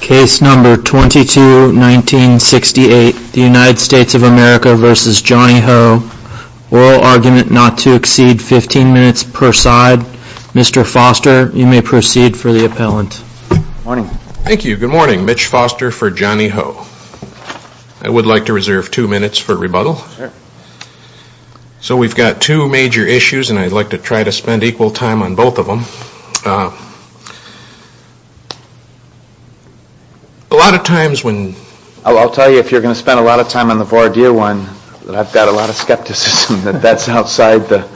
Case number 22-1968, the United States of America v. Johnny Ho. Oral argument not to exceed 15 minutes per side. Mr. Foster, you may proceed for the appellant. Thank you. Good morning. Mitch Foster for Johnny Ho. I would like to reserve two minutes for rebuttal. So we've got two major issues and I'd like to try to spend equal time on both of them. A lot of times when... I'll tell you if you're going to spend a lot of time on the voir dire one, I've got a lot of skepticism that that's outside the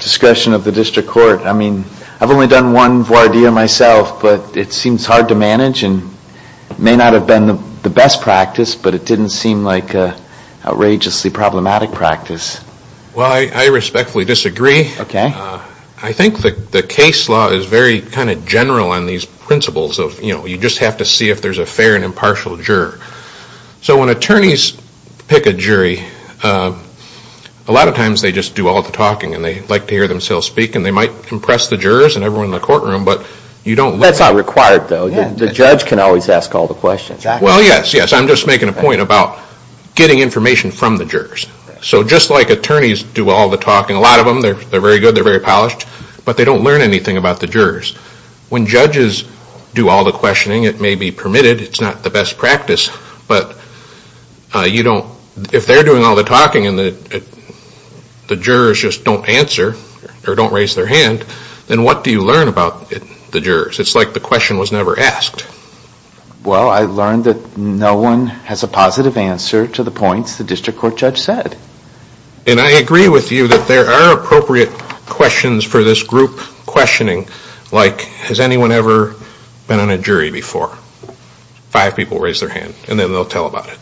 discretion of the district court. I mean, I've only done one voir dire myself, but it seems hard to manage and may not have been the best practice, but it didn't seem like an outrageously problematic practice. Well, I respectfully disagree. I think the case law is very kind of general on these principles of, you know, you just have to see if there's a fair and impartial juror. So when attorneys pick a jury, a lot of times they just do all the talking and they like to hear themselves speak and they might impress the jurors and everyone in the courtroom, but you don't... That's not required, though. The judge can always ask all the questions. Well, yes, yes. I'm just making a point about getting information from the jurors. So just like attorneys do all the talking, a lot of them, they're very good, they're very polished, but they don't learn anything about the jurors. When judges do all the questioning, it may be permitted, it's not the best practice, but you don't... If they're doing all the talking and the jurors just don't answer or don't raise their hand, then what do you learn about the jurors? It's like the question was never asked. Well, I learned that no one has a positive answer to the points the district court judge said. And I agree with you that there are appropriate questions for this group questioning, like has anyone ever been on a jury before? Five people raise their hand and then they'll tell about it.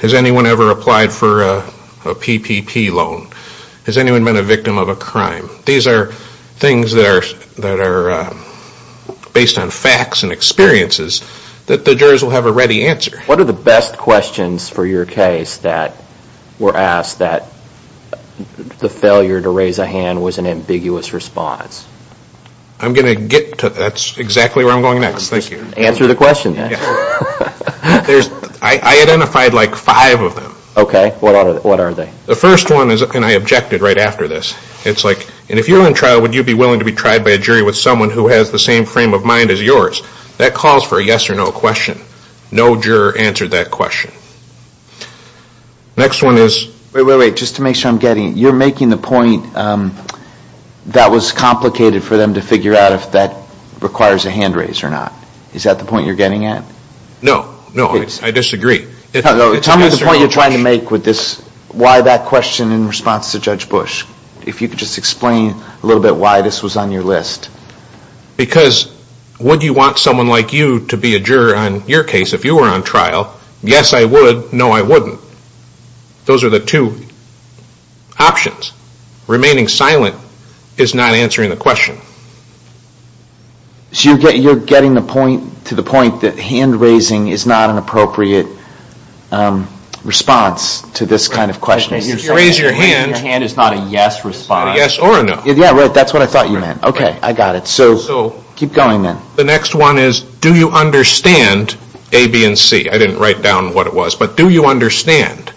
Has anyone ever applied for a PPP loan? Has anyone been a victim of a crime? These are things that are based on facts and experiences that the jurors will have a ready answer. What are the best questions for your case that were asked that the failure to raise a hand was an ambiguous response? I'm going to get to... That's exactly where I'm going next, thank you. Answer the question then. I identified like five of them. Okay, what are they? The first one is, and I objected right after this, it's like, and if you're in trial, would you be willing to be tried by a jury with someone who has the same frame of mind as yours? That calls for a yes or no question. No juror answered that question. Next one is... Wait, wait, wait, just to make sure I'm getting it. You're making the point that was complicated for them to figure out if that requires a hand raise or not. Is that the point you're getting at? No, no, I disagree. Tell me the point you're trying to make with this, why that question in response to Judge Bush. If you could just explain a little bit why this was on your list. Because would you want someone like you to be a juror on your case if you were on trial? Yes I would, no I wouldn't. Those are the two options. Remaining silent is not answering the question. So you're getting to the point that hand raising is not an appropriate response to this kind of question. If you raise your hand... Your hand is not a yes response. A yes or a no. Yeah, right, that's what I thought you meant. Okay, I got it, so keep going then. The next one is, do you understand A, B, and C? I didn't write down what it was, but do you understand?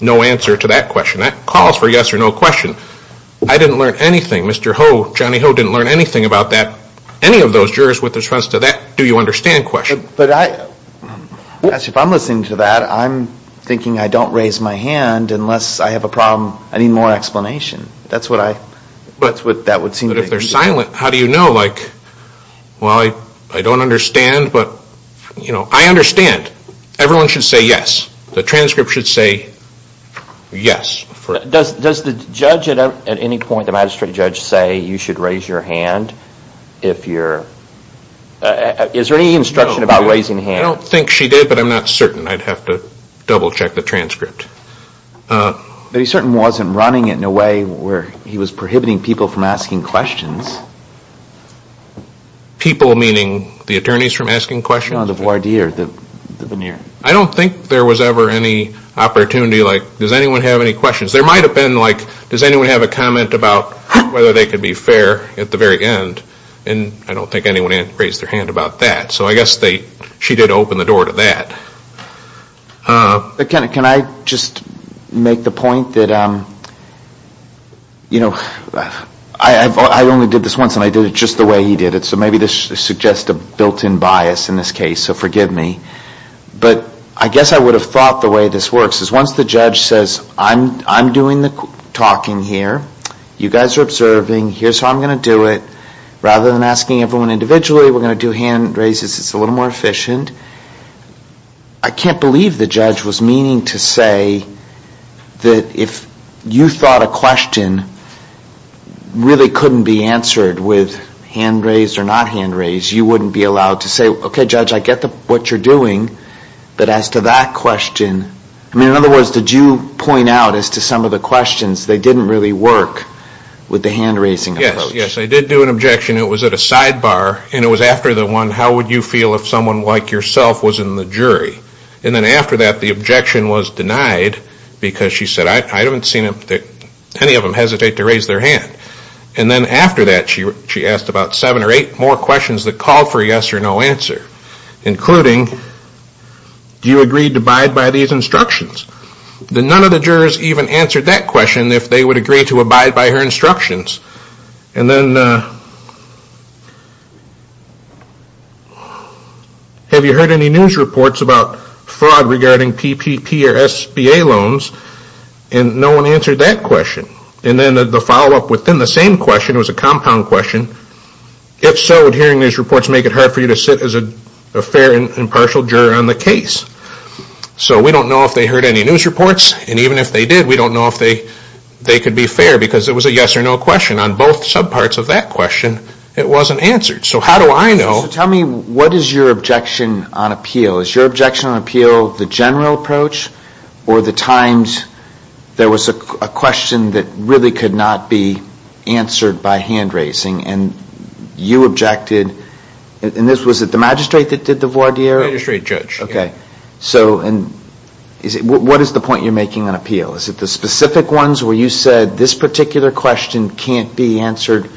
No answer to that question. That calls for a yes or no question. I didn't learn anything. Mr. Ho, Johnny Ho, didn't learn anything about that. Any of those jurors with response to that do you understand question. But I, actually if I'm listening to that, I'm thinking I don't raise my hand unless I have a problem, I need more explanation. That's what I, that's what that would seem to be. But if they're silent, how do you know? Like, well I don't understand, but, you know, I understand. Everyone should say yes. The transcript should say yes. Does the judge at any point, the magistrate judge, say you should raise your hand if you're, is there any instruction about raising hands? I don't think she did, but I'm not certain. I'd have to double check the transcript. But he certainly wasn't running it in a way where he was prohibiting people from asking questions. People meaning the attorneys from asking questions? No, the voir dire, the veneer. I don't think there was ever any opportunity, like, does anyone have any questions? There might have been, like, does anyone have a comment about whether they could be fair at the very end? And I don't think anyone raised their hand about that. So I guess they, she did open the door to that. Can I just make the point that, you know, I only did this once and I did it just the way he did it. So maybe this suggests a built-in bias in this case, so forgive me. But I guess I would have thought the way this works is once the judge says, I'm doing the talking here. You guys are observing. Here's how I'm going to do it. Rather than asking everyone individually, we're going to do hand raises. It's a little more efficient. I can't believe the judge was meaning to say that if you thought a question really couldn't be answered with hand raised or not hand raised, you wouldn't be allowed to say, okay, judge, I get what you're doing. But as to that question, I mean, in other words, did you point out as to some of the questions, they didn't really work with the hand raising approach? Yes, yes, I did do an objection. It was at a sidebar. And it was after the one, how would you feel if someone like yourself was in the jury? And then after that, the objection was denied because she said, I haven't seen any of them hesitate to raise their hand. And then after that, she asked about seven or eight more questions that called for a yes or no answer. Including, do you agree to abide by these instructions? None of the jurors even answered that question if they would agree to abide by her instructions. And then, have you heard any news reports about fraud regarding PPP or SBA loans? And no one answered that question. And then the follow-up within the same question was a compound question. If so, would hearing these reports make it hard for you to sit as a fair and impartial juror on the case? So we don't know if they heard any news reports. And even if they did, we don't know if they could be fair because it was a yes or no question. On both subparts of that question, it wasn't answered. So how do I know? So tell me, what is your objection on appeal? Is your objection on appeal the general approach? Or the times there was a question that really could not be answered by hand raising and you objected? And was it the magistrate that did the voir dire? The magistrate, Judge. Okay. So what is the point you're making on appeal? Is it the specific ones where you said this particular question can't be answered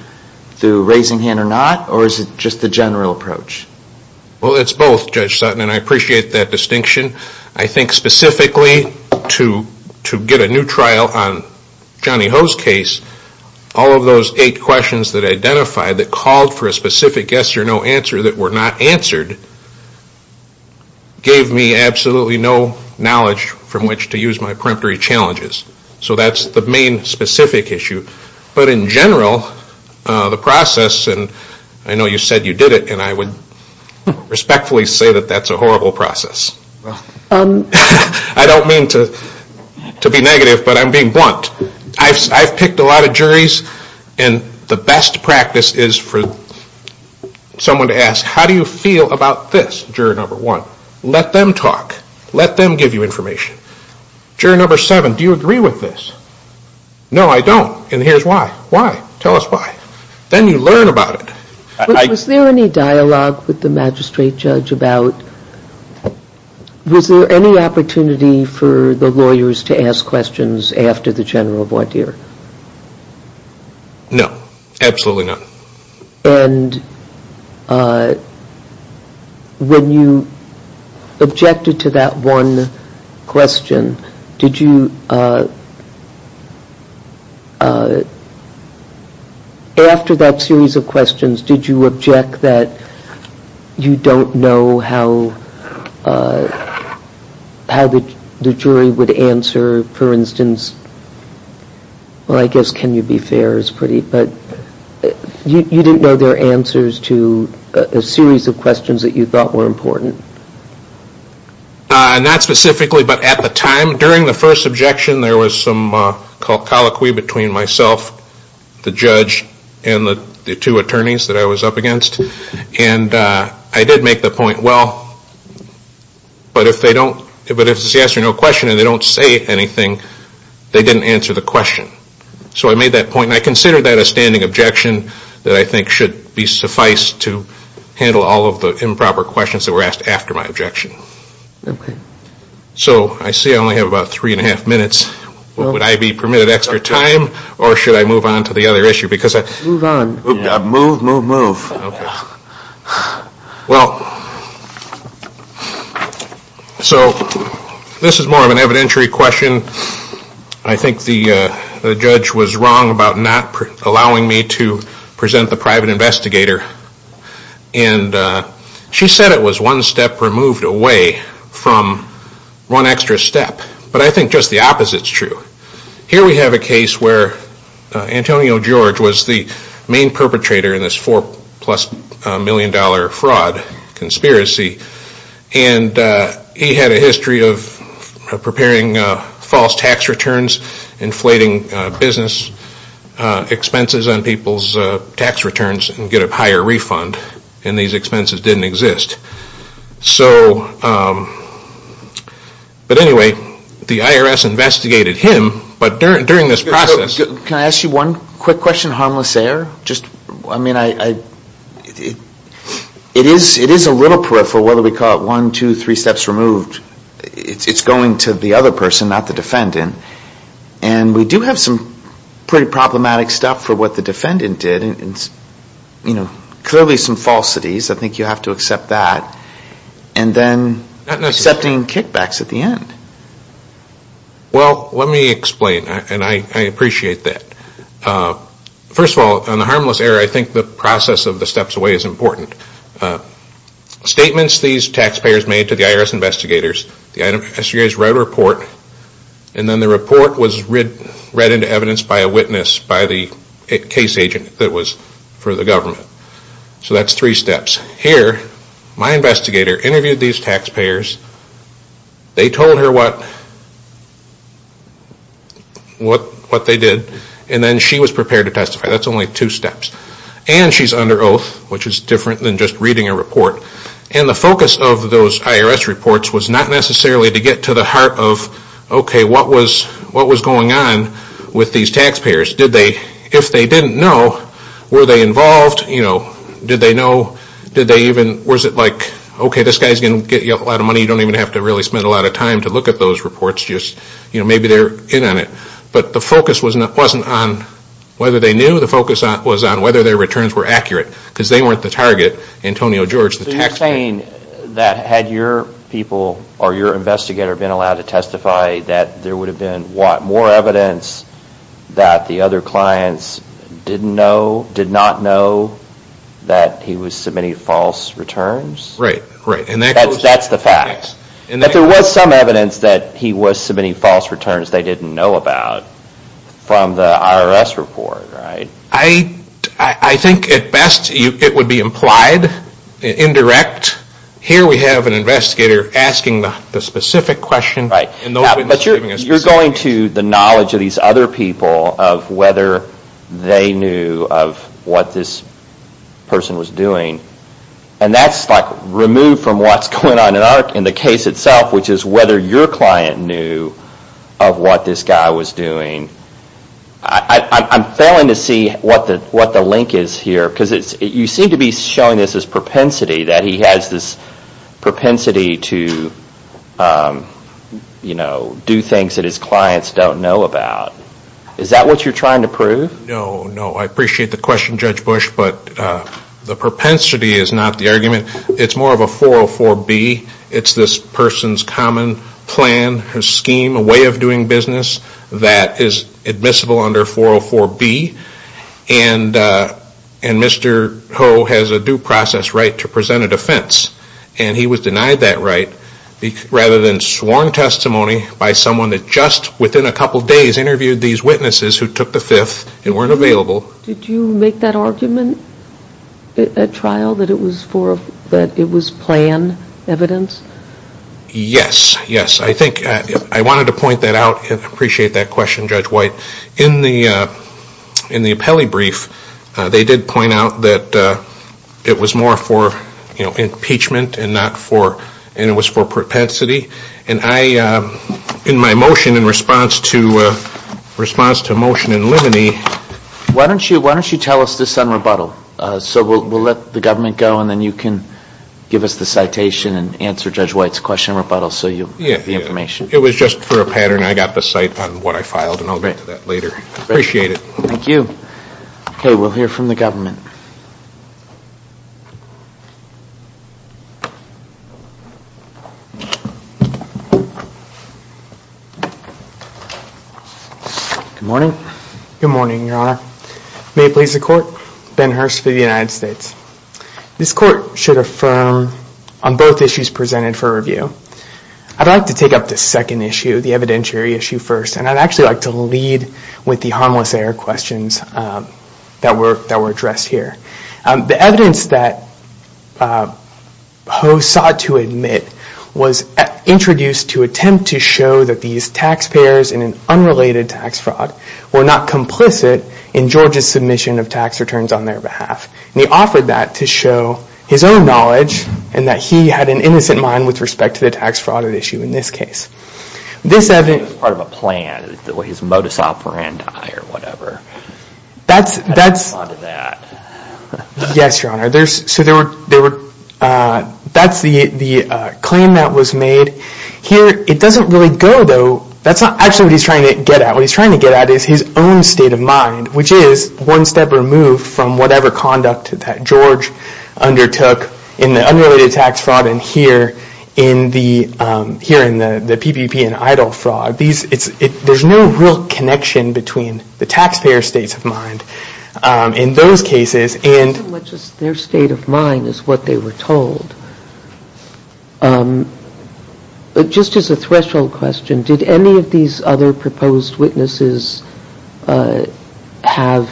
through raising hand or not? Or is it just the general approach? Well, it's both, Judge Sutton, and I appreciate that distinction. I think specifically to get a new trial on Johnny Ho's case, all of those eight questions that I identified that called for a specific yes or no answer that were not answered gave me absolutely no knowledge from which to use my preemptory challenges. So that's the main specific issue. But in general, the process, and I know you said you did it, and I would respectfully say that that's a horrible process. I don't mean to be negative, but I'm being blunt. I've picked a lot of juries, and the best practice is for someone to ask, how do you feel about this, jury number one? Let them talk. Let them give you information. Jury number seven, do you agree with this? No, I don't. And here's why. Why? Tell us why. Then you learn about it. Was there any dialogue with the magistrate judge about, was there any opportunity for the lawyers to ask questions after the general voir dire? No, absolutely not. And when you objected to that one question, did you, after that series of questions, did you object that you don't know how the jury would answer, for instance, well, I guess can you be fair is pretty, but you didn't know their answers to a series of questions that you thought were important. Not specifically, but at the time, during the first objection, there was some colloquy between myself, the judge, and the two attorneys that I was up against. And I did make the point, well, but if they don't, but if it's the answer to no question and they don't say anything, they didn't answer the question. So I made that point and I considered that a standing objection that I think should suffice to handle all of the improper questions that were asked after my objection. Okay. So I see I only have about three and a half minutes. Would I be permitted extra time or should I move on to the other issue? Move on. Move, move, move. Okay. Well, so this is more of an evidentiary question. I think the judge was wrong about not allowing me to present the private investigator. And she said it was one step removed away from one extra step. But I think just the opposite is true. Here we have a case where Antonio George was the main perpetrator in this four-plus-million-dollar fraud conspiracy. And he had a history of preparing false tax returns, inflating business expenses on people's tax returns and get a higher refund. And these expenses didn't exist. So, but anyway, the IRS investigated him. But during this process. Can I ask you one quick question, harmless error? I mean, it is a little peripheral whether we call it one, two, three steps removed. It's going to the other person, not the defendant. And we do have some pretty problematic stuff for what the defendant did. Clearly some falsities. I think you have to accept that. And then accepting kickbacks at the end. Well, let me explain. And I appreciate that. First of all, on the harmless error, I think the process of the steps away is important. Statements these taxpayers made to the IRS investigators. The IRS investigators wrote a report. And then the report was read into evidence by a witness, by the case agent that was for the government. So that's three steps. Here, my investigator interviewed these taxpayers. They told her what they did. And then she was prepared to testify. That's only two steps. And she's under oath, which is different than just reading a report. And the focus of those IRS reports was not necessarily to get to the heart of, okay, what was going on with these taxpayers? If they didn't know, were they involved? Did they know? Was it like, okay, this guy's going to get you a lot of money. You don't even have to really spend a lot of time to look at those reports. Maybe they're in on it. But the focus wasn't on whether they knew. The focus was on whether their returns were accurate. Because they weren't the target. Antonio George, the taxpayer. So you're saying that had your people or your investigator been allowed to testify, that there would have been more evidence that the other clients didn't know, did not know that he was submitting false returns? Right. That's the fact. But there was some evidence that he was submitting false returns they didn't know about from the IRS report, right? I think at best it would be implied, indirect. Here we have an investigator asking the specific question. But you're going to the knowledge of these other people of whether they knew of what this person was doing. And that's like removed from what's going on in the case itself, which is whether your client knew of what this guy was doing. I'm failing to see what the link is here. Because you seem to be showing this as propensity, that he has this propensity to do things that his clients don't know about. Is that what you're trying to prove? No, no. I appreciate the question, Judge Bush. But the propensity is not the argument. It's more of a 404B. It's this person's common plan or scheme, a way of doing business, that is admissible under 404B. And Mr. Ho has a due process right to present a defense. And he was denied that right rather than sworn testimony by someone that just within a couple days interviewed these witnesses who took the fifth and weren't available. Did you make that argument at trial that it was plan evidence? Yes, yes. I think I wanted to point that out. I appreciate that question, Judge White. In the appellee brief, they did point out that it was more for impeachment and it was for propensity. And in my motion in response to a motion in limine. Why don't you tell us this on rebuttal? So we'll let the government go and then you can give us the citation and answer Judge White's question on rebuttal so you have the information. It was just for a pattern. I got the cite on what I filed and I'll get to that later. Appreciate it. Thank you. Okay, we'll hear from the government. Good morning. Good morning, Your Honor. May it please the Court. Ben Hurst for the United States. This Court should affirm on both issues presented for review. I'd like to take up the second issue, the evidentiary issue first, and I'd actually like to lead with the harmless error questions that were addressed here. The evidence that Ho sought to admit was introduced to attempt to show that these taxpayers in an unrelated tax fraud were not complicit in George's submission of tax returns on their behalf. And he offered that to show his own knowledge and that he had an innocent mind with respect to the tax fraud issue in this case. This evidence... It was part of a plan. His modus operandi or whatever. Yes, Your Honor. That's the claim that was made. Here it doesn't really go, though. That's not actually what he's trying to get at. What he's trying to get at is his own state of mind, which is one step removed from whatever conduct that George undertook in the unrelated tax fraud and here in the PPP and EIDL fraud. There's no real connection between the taxpayer's states of mind in those cases. Their state of mind is what they were told. Just as a threshold question, did any of these other proposed witnesses have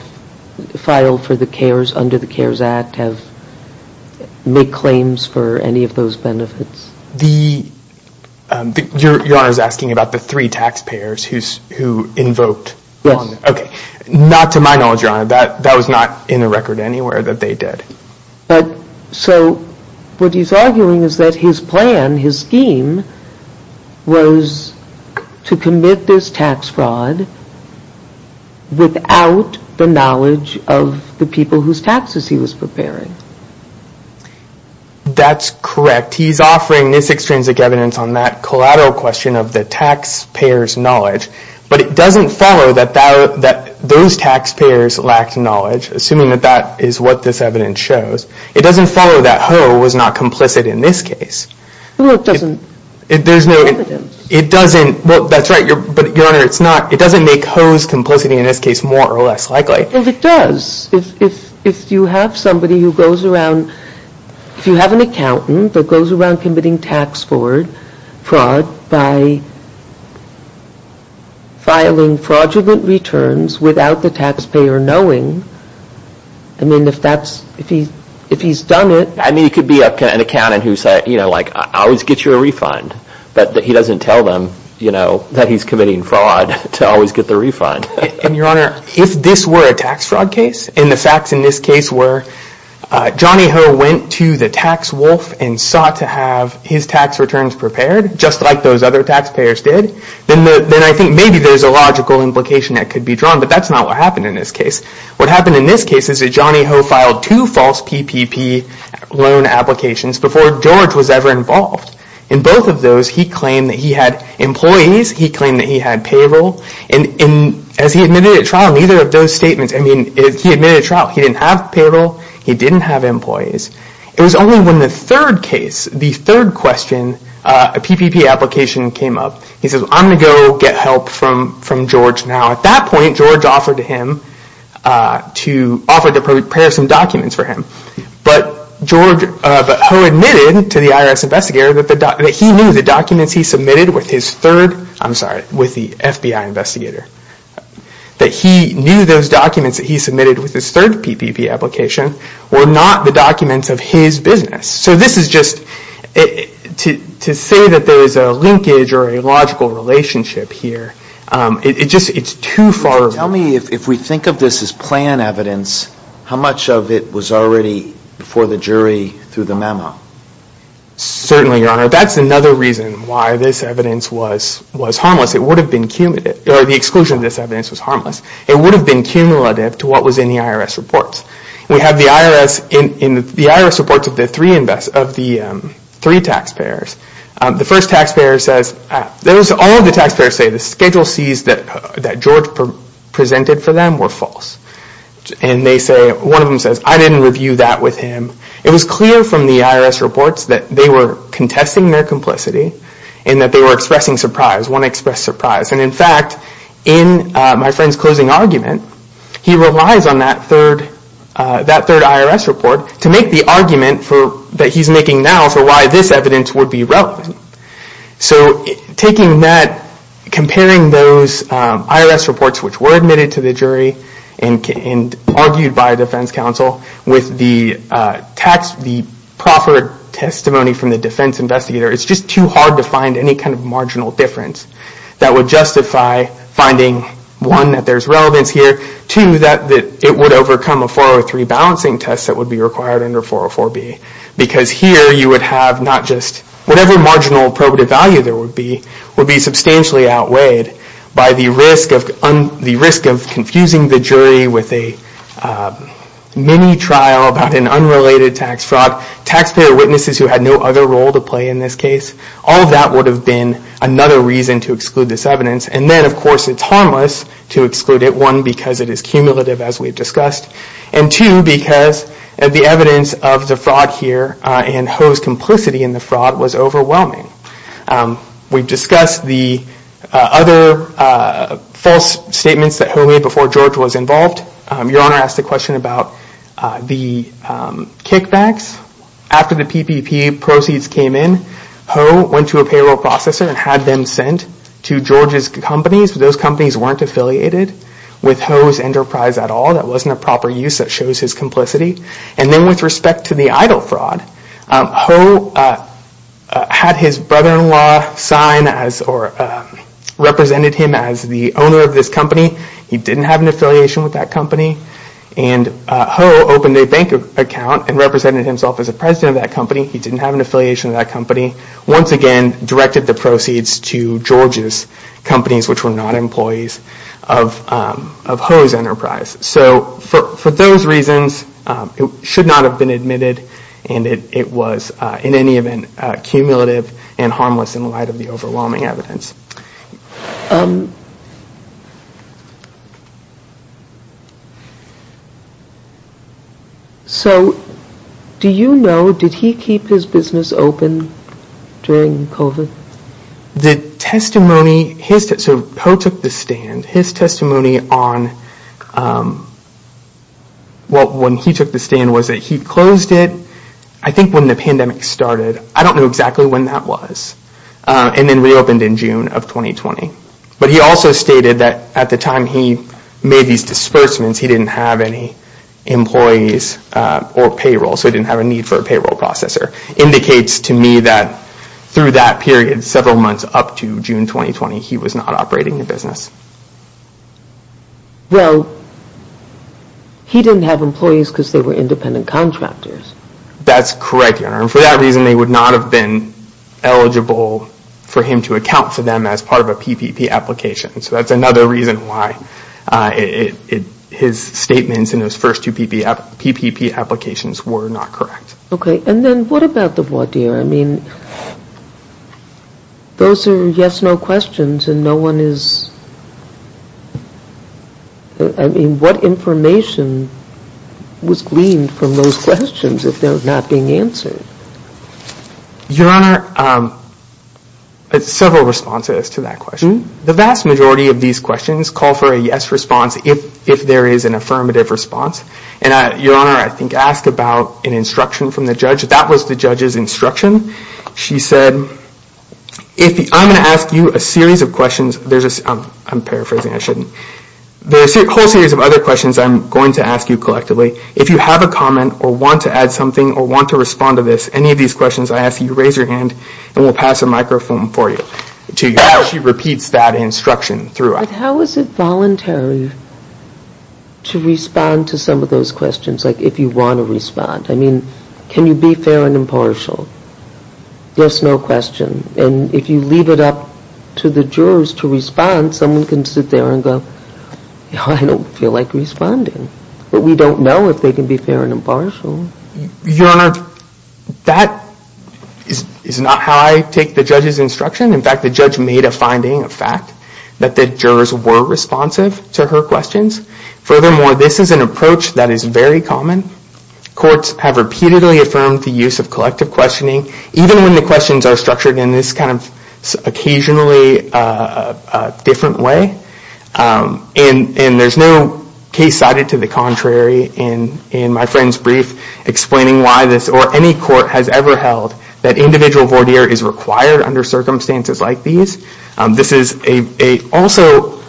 filed for the CARES, under the CARES Act, have made claims for any of those benefits? Your Honor is asking about the three taxpayers who invoked. Yes. Okay. Not to my knowledge, Your Honor. That was not in the record anywhere that they did. So what he's arguing is that his plan, his scheme, was to commit this tax fraud without the knowledge of the people whose taxes he was preparing. That's correct. He's offering this extrinsic evidence on that collateral question of the taxpayer's knowledge, but it doesn't follow that those taxpayers lacked knowledge, assuming that that is what this evidence shows. It doesn't follow that Ho was not complicit in this case. Well, it doesn't. There's no evidence. It doesn't. Well, that's right. But, Your Honor, it doesn't make Ho's complicity in this case more or less likely. It does. If you have somebody who goes around, if you have an accountant that goes around committing tax fraud by filing fraudulent returns without the taxpayer knowing, I mean, if he's done it. I mean, it could be an accountant who said, you know, like, I always get you a refund, but he doesn't tell them, you know, that he's committing fraud to always get the refund. And, Your Honor, if this were a tax fraud case, and the facts in this case were Johnny Ho went to the tax wolf and sought to have his tax returns prepared, just like those other taxpayers did, then I think maybe there's a logical implication that could be drawn, but that's not what happened in this case. What happened in this case is that Johnny Ho filed two false PPP loan applications before George was ever involved. In both of those, he claimed that he had employees. He claimed that he had payroll. And as he admitted at trial, neither of those statements, I mean, he admitted at trial he didn't have payroll. He didn't have employees. It was only when the third case, the third question, a PPP application came up. He says, I'm going to go get help from George now. At that point, George offered to prepare some documents for him, but Ho admitted to the IRS investigator that he knew the documents he submitted with his third, I'm sorry, with the FBI investigator, that he knew those documents that he submitted with his third PPP application were not the documents of his business. So this is just, to say that there is a linkage or a logical relationship here, it just, it's too far. Tell me if we think of this as plan evidence, how much of it was already before the jury through the memo? Certainly, Your Honor. That's another reason why this evidence was harmless. It would have been cumulative, or the exclusion of this evidence was harmless. It would have been cumulative to what was in the IRS reports. We have the IRS, in the IRS reports of the three taxpayers, the first taxpayer says, all of the taxpayers say the Schedule C's that George presented for them were false. And they say, one of them says, I didn't review that with him. It was clear from the IRS reports that they were contesting their complicity and that they were expressing surprise, one expressed surprise. And in fact, in my friend's closing argument, he relies on that third IRS report to make the argument that he's making now for why this evidence would be relevant. So comparing those IRS reports, which were admitted to the jury and argued by a defense counsel, with the proffered testimony from the defense investigator, it's just too hard to find any kind of marginal difference that would justify finding, one, that there's relevance here, two, that it would overcome a 403 balancing test that would be required under 404B. Because here, you would have not just, whatever marginal probative value there would be, would be substantially outweighed by the risk of confusing the jury with a mini trial about an unrelated tax fraud. Taxpayer witnesses who had no other role to play in this case, all of that would have been another reason to exclude this evidence. And then, of course, it's harmless to exclude it, one, because it is cumulative, as we've discussed, and two, because the evidence of the fraud here and Ho's complicity in the fraud was overwhelming. We've discussed the other false statements that Ho made before George was involved. Your Honor asked a question about the kickbacks. After the PPP proceeds came in, Ho went to a payroll processor and had them sent to George's companies, but those companies weren't affiliated with Ho's enterprise at all. That wasn't a proper use that shows his complicity. And then, with respect to the EIDL fraud, Ho had his brother-in-law sign or represented him as the owner of this company. He didn't have an affiliation with that company. And Ho opened a bank account and represented himself as a president of that company. He didn't have an affiliation with that company. Once again, directed the proceeds to George's companies, which were not employees of Ho's enterprise. So, for those reasons, it should not have been admitted, and it was, in any event, cumulative and harmless in light of the overwhelming evidence. So, do you know, did he keep his business open during COVID? The testimony, so Ho took the stand. His testimony on when he took the stand was that he closed it, I think when the pandemic started. I don't know exactly when that was. And then reopened in June of 2020. But he also stated that at the time he made these disbursements, he didn't have any employees or payroll, so he didn't have a need for a payroll processor. Indicates to me that through that period, several months up to June 2020, he was not operating a business. Well, he didn't have employees because they were independent contractors. That's correct, Your Honor. And for that reason, they would not have been eligible for him to account for them as part of a PPP application. So that's another reason why his statements in those first two PPP applications were not correct. Okay, and then what about the voir dire? I mean, those are yes-no questions and no one is... I mean, what information was gleaned from those questions if they're not being answered? Your Honor, several responses to that question. The vast majority of these questions call for a yes response if there is an affirmative response. And Your Honor, I think I asked about an instruction from the judge. That was the judge's instruction. She said, I'm going to ask you a series of questions. I'm paraphrasing, I shouldn't. There's a whole series of other questions I'm going to ask you collectively. If you have a comment or want to add something or want to respond to this, any of these questions I ask, you raise your hand and we'll pass a microphone for you. She repeats that instruction throughout. But how is it voluntary to respond to some of those questions? Like, if you want to respond. I mean, can you be fair and impartial? Yes-no question. And if you leave it up to the jurors to respond, someone can sit there and go, I don't feel like responding. But we don't know if they can be fair and impartial. Your Honor, that is not how I take the judge's instruction. In fact, the judge made a finding, a fact, that the jurors were responsive to her questions. Furthermore, this is an approach that is very common. Courts have repeatedly affirmed the use of collective questioning, even when the questions are structured in this kind of occasionally different way. And there's no case cited to the contrary in my friend's brief explaining why this, or any court has ever held, that individual voir dire is required under circumstances like these. This is also,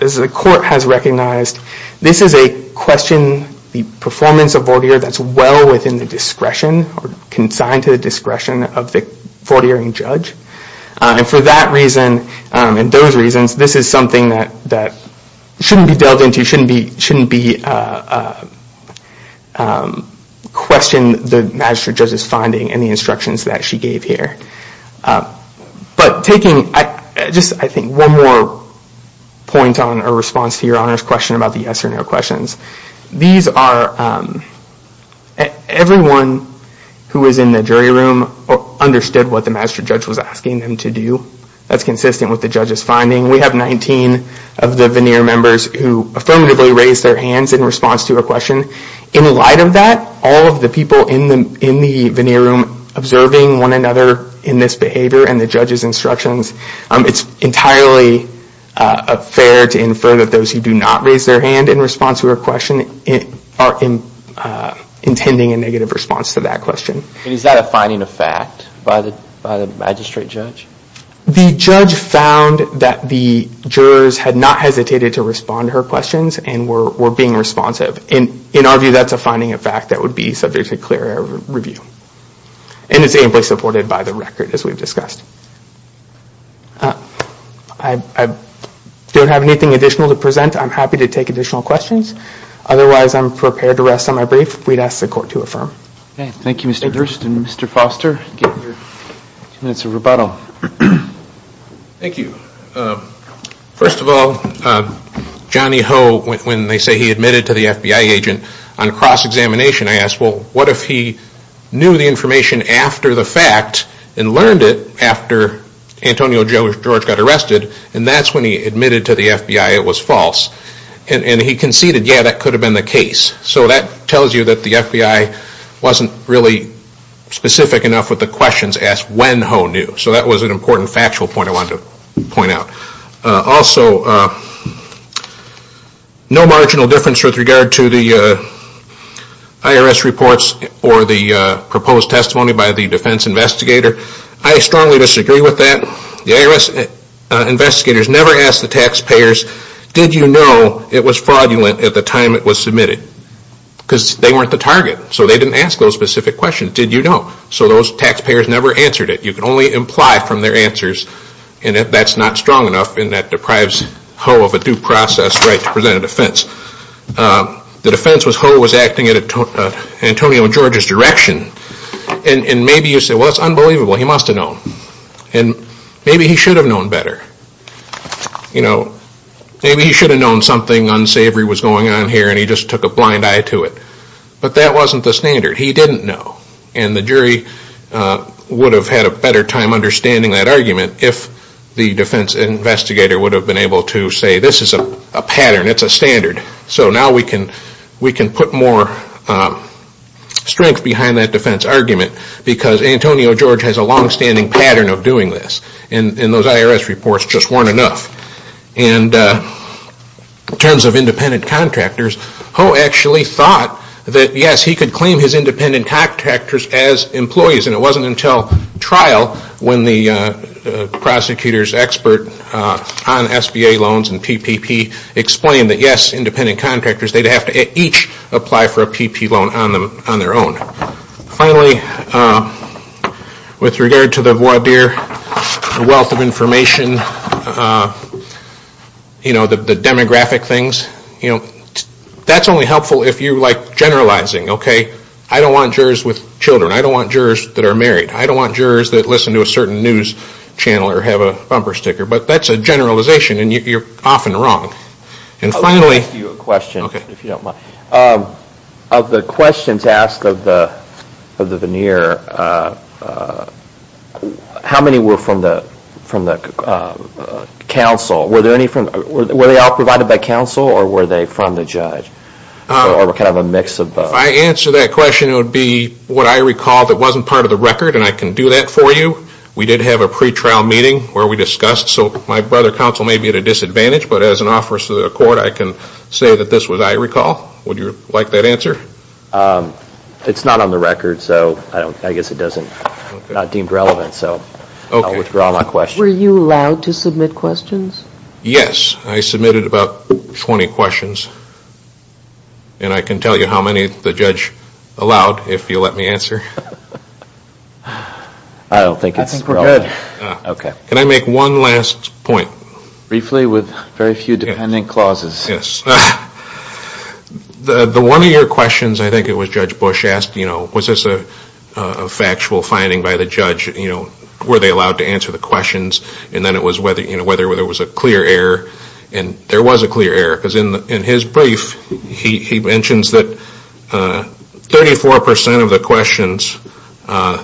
as the court has recognized, this is a question, the performance of voir dire, that's well within the discretion, consigned to the discretion of the voir direing judge. And for that reason, and those reasons, this is something that shouldn't be dealt into, shouldn't be questioned, in the magistrate judge's finding and the instructions that she gave here. But taking just, I think, one more point on a response to Your Honor's question about the yes or no questions. These are, everyone who is in the jury room understood what the magistrate judge was asking them to do. That's consistent with the judge's finding. We have 19 of the voir dire members who affirmatively raised their hands in response to her question. In light of that, all of the people in the veneer room observing one another in this behavior and the judge's instructions, it's entirely fair to infer that those who do not raise their hand in response to her question are intending a negative response to that question. And is that a finding of fact by the magistrate judge? The judge found that the jurors had not hesitated to respond to her questions and were being responsive. In our view, that's a finding of fact that would be subject to clearer review. And it's amply supported by the record, as we've discussed. I don't have anything additional to present. I'm happy to take additional questions. Otherwise, I'm prepared to rest on my brief. We'd ask the Court to affirm. Thank you, Mr. Durst. And Mr. Foster, give your two minutes of rebuttal. Thank you. First of all, Johnny Ho, when they say he admitted to the FBI agent on cross-examination, I asked, well, what if he knew the information after the fact and learned it after Antonio George got arrested and that's when he admitted to the FBI it was false? And he conceded, yeah, that could have been the case. So that tells you that the FBI wasn't really specific enough with the questions asked when Ho knew. So that was an important factual point I wanted to point out. Also, no marginal difference with regard to the IRS reports or the proposed testimony by the defense investigator. I strongly disagree with that. The IRS investigators never asked the taxpayers, did you know it was fraudulent at the time it was submitted? Because they weren't the target. So they didn't ask those specific questions. Did you know? So those taxpayers never answered it. You can only imply from their answers that that's not strong enough and that deprives Ho of a due process right to present a defense. The defense was Ho was acting in Antonio George's direction and maybe you say, well, that's unbelievable. He must have known. And maybe he should have known better. Maybe he should have known something unsavory was going on here and he just took a blind eye to it. But that wasn't the standard. He didn't know. And the jury would have had a better time understanding that argument if the defense investigator would have been able to say this is a pattern, it's a standard. So now we can put more strength behind that defense argument because Antonio George has a longstanding pattern of doing this and those IRS reports just weren't enough. And in terms of independent contractors, Ho actually thought that, yes, he could claim his independent contractors as employees and it wasn't until trial when the prosecutor's expert on SBA loans and PPP explained that, yes, independent contractors, they'd have to each apply for a PPP loan on their own. Finally, with regard to the voir dire, the wealth of information, the demographic things, that's only helpful if you like generalizing. I don't want jurors with children. I don't want jurors that are married. I don't want jurors that listen to a certain news channel or have a bumper sticker. But that's a generalization and you're often wrong. I'll ask you a question if you don't mind. Of the questions asked of the veneer, how many were from the counsel? Were they all provided by counsel or were they from the judge? Or kind of a mix of both? If I answer that question, it would be what I recall that wasn't part of the record and I can do that for you. We did have a pretrial meeting where we discussed. So my brother counsel may be at a disadvantage, but as an officer of the court, I can say that this was I recall. Would you like that answer? It's not on the record, so I guess it's not deemed relevant. So I'll withdraw my question. Were you allowed to submit questions? Yes. I submitted about 20 questions. And I can tell you how many the judge allowed if you let me answer. I don't think it's relevant. I think we're good. Can I make one last point? Briefly with very few dependent clauses. Yes. The one of your questions, I think it was Judge Bush asked, was this a factual finding by the judge? Were they allowed to answer the questions? And then it was whether there was a clear error. And there was a clear error because in his brief, he mentions that 34% of the questions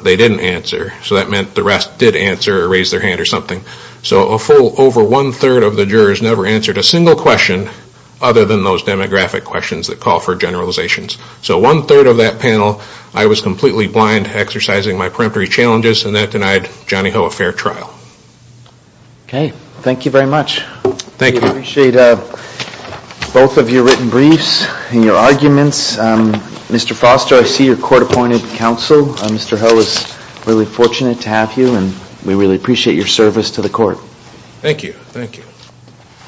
they didn't answer. So that meant the rest did answer or raise their hand or something. So a full over one-third of the jurors never answered a single question other than those demographic questions that call for generalizations. So one-third of that panel, I was completely blind to exercising my peremptory challenges, and that denied Johnny Ho a fair trial. Okay. Thank you very much. Thank you. We appreciate both of your written briefs and your arguments. Mr. Foster, I see you're court-appointed counsel. Mr. Ho is really fortunate to have you, and we really appreciate your service to the court. Thank you.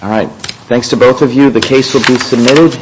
All right. Thanks to both of you. The case will be submitted.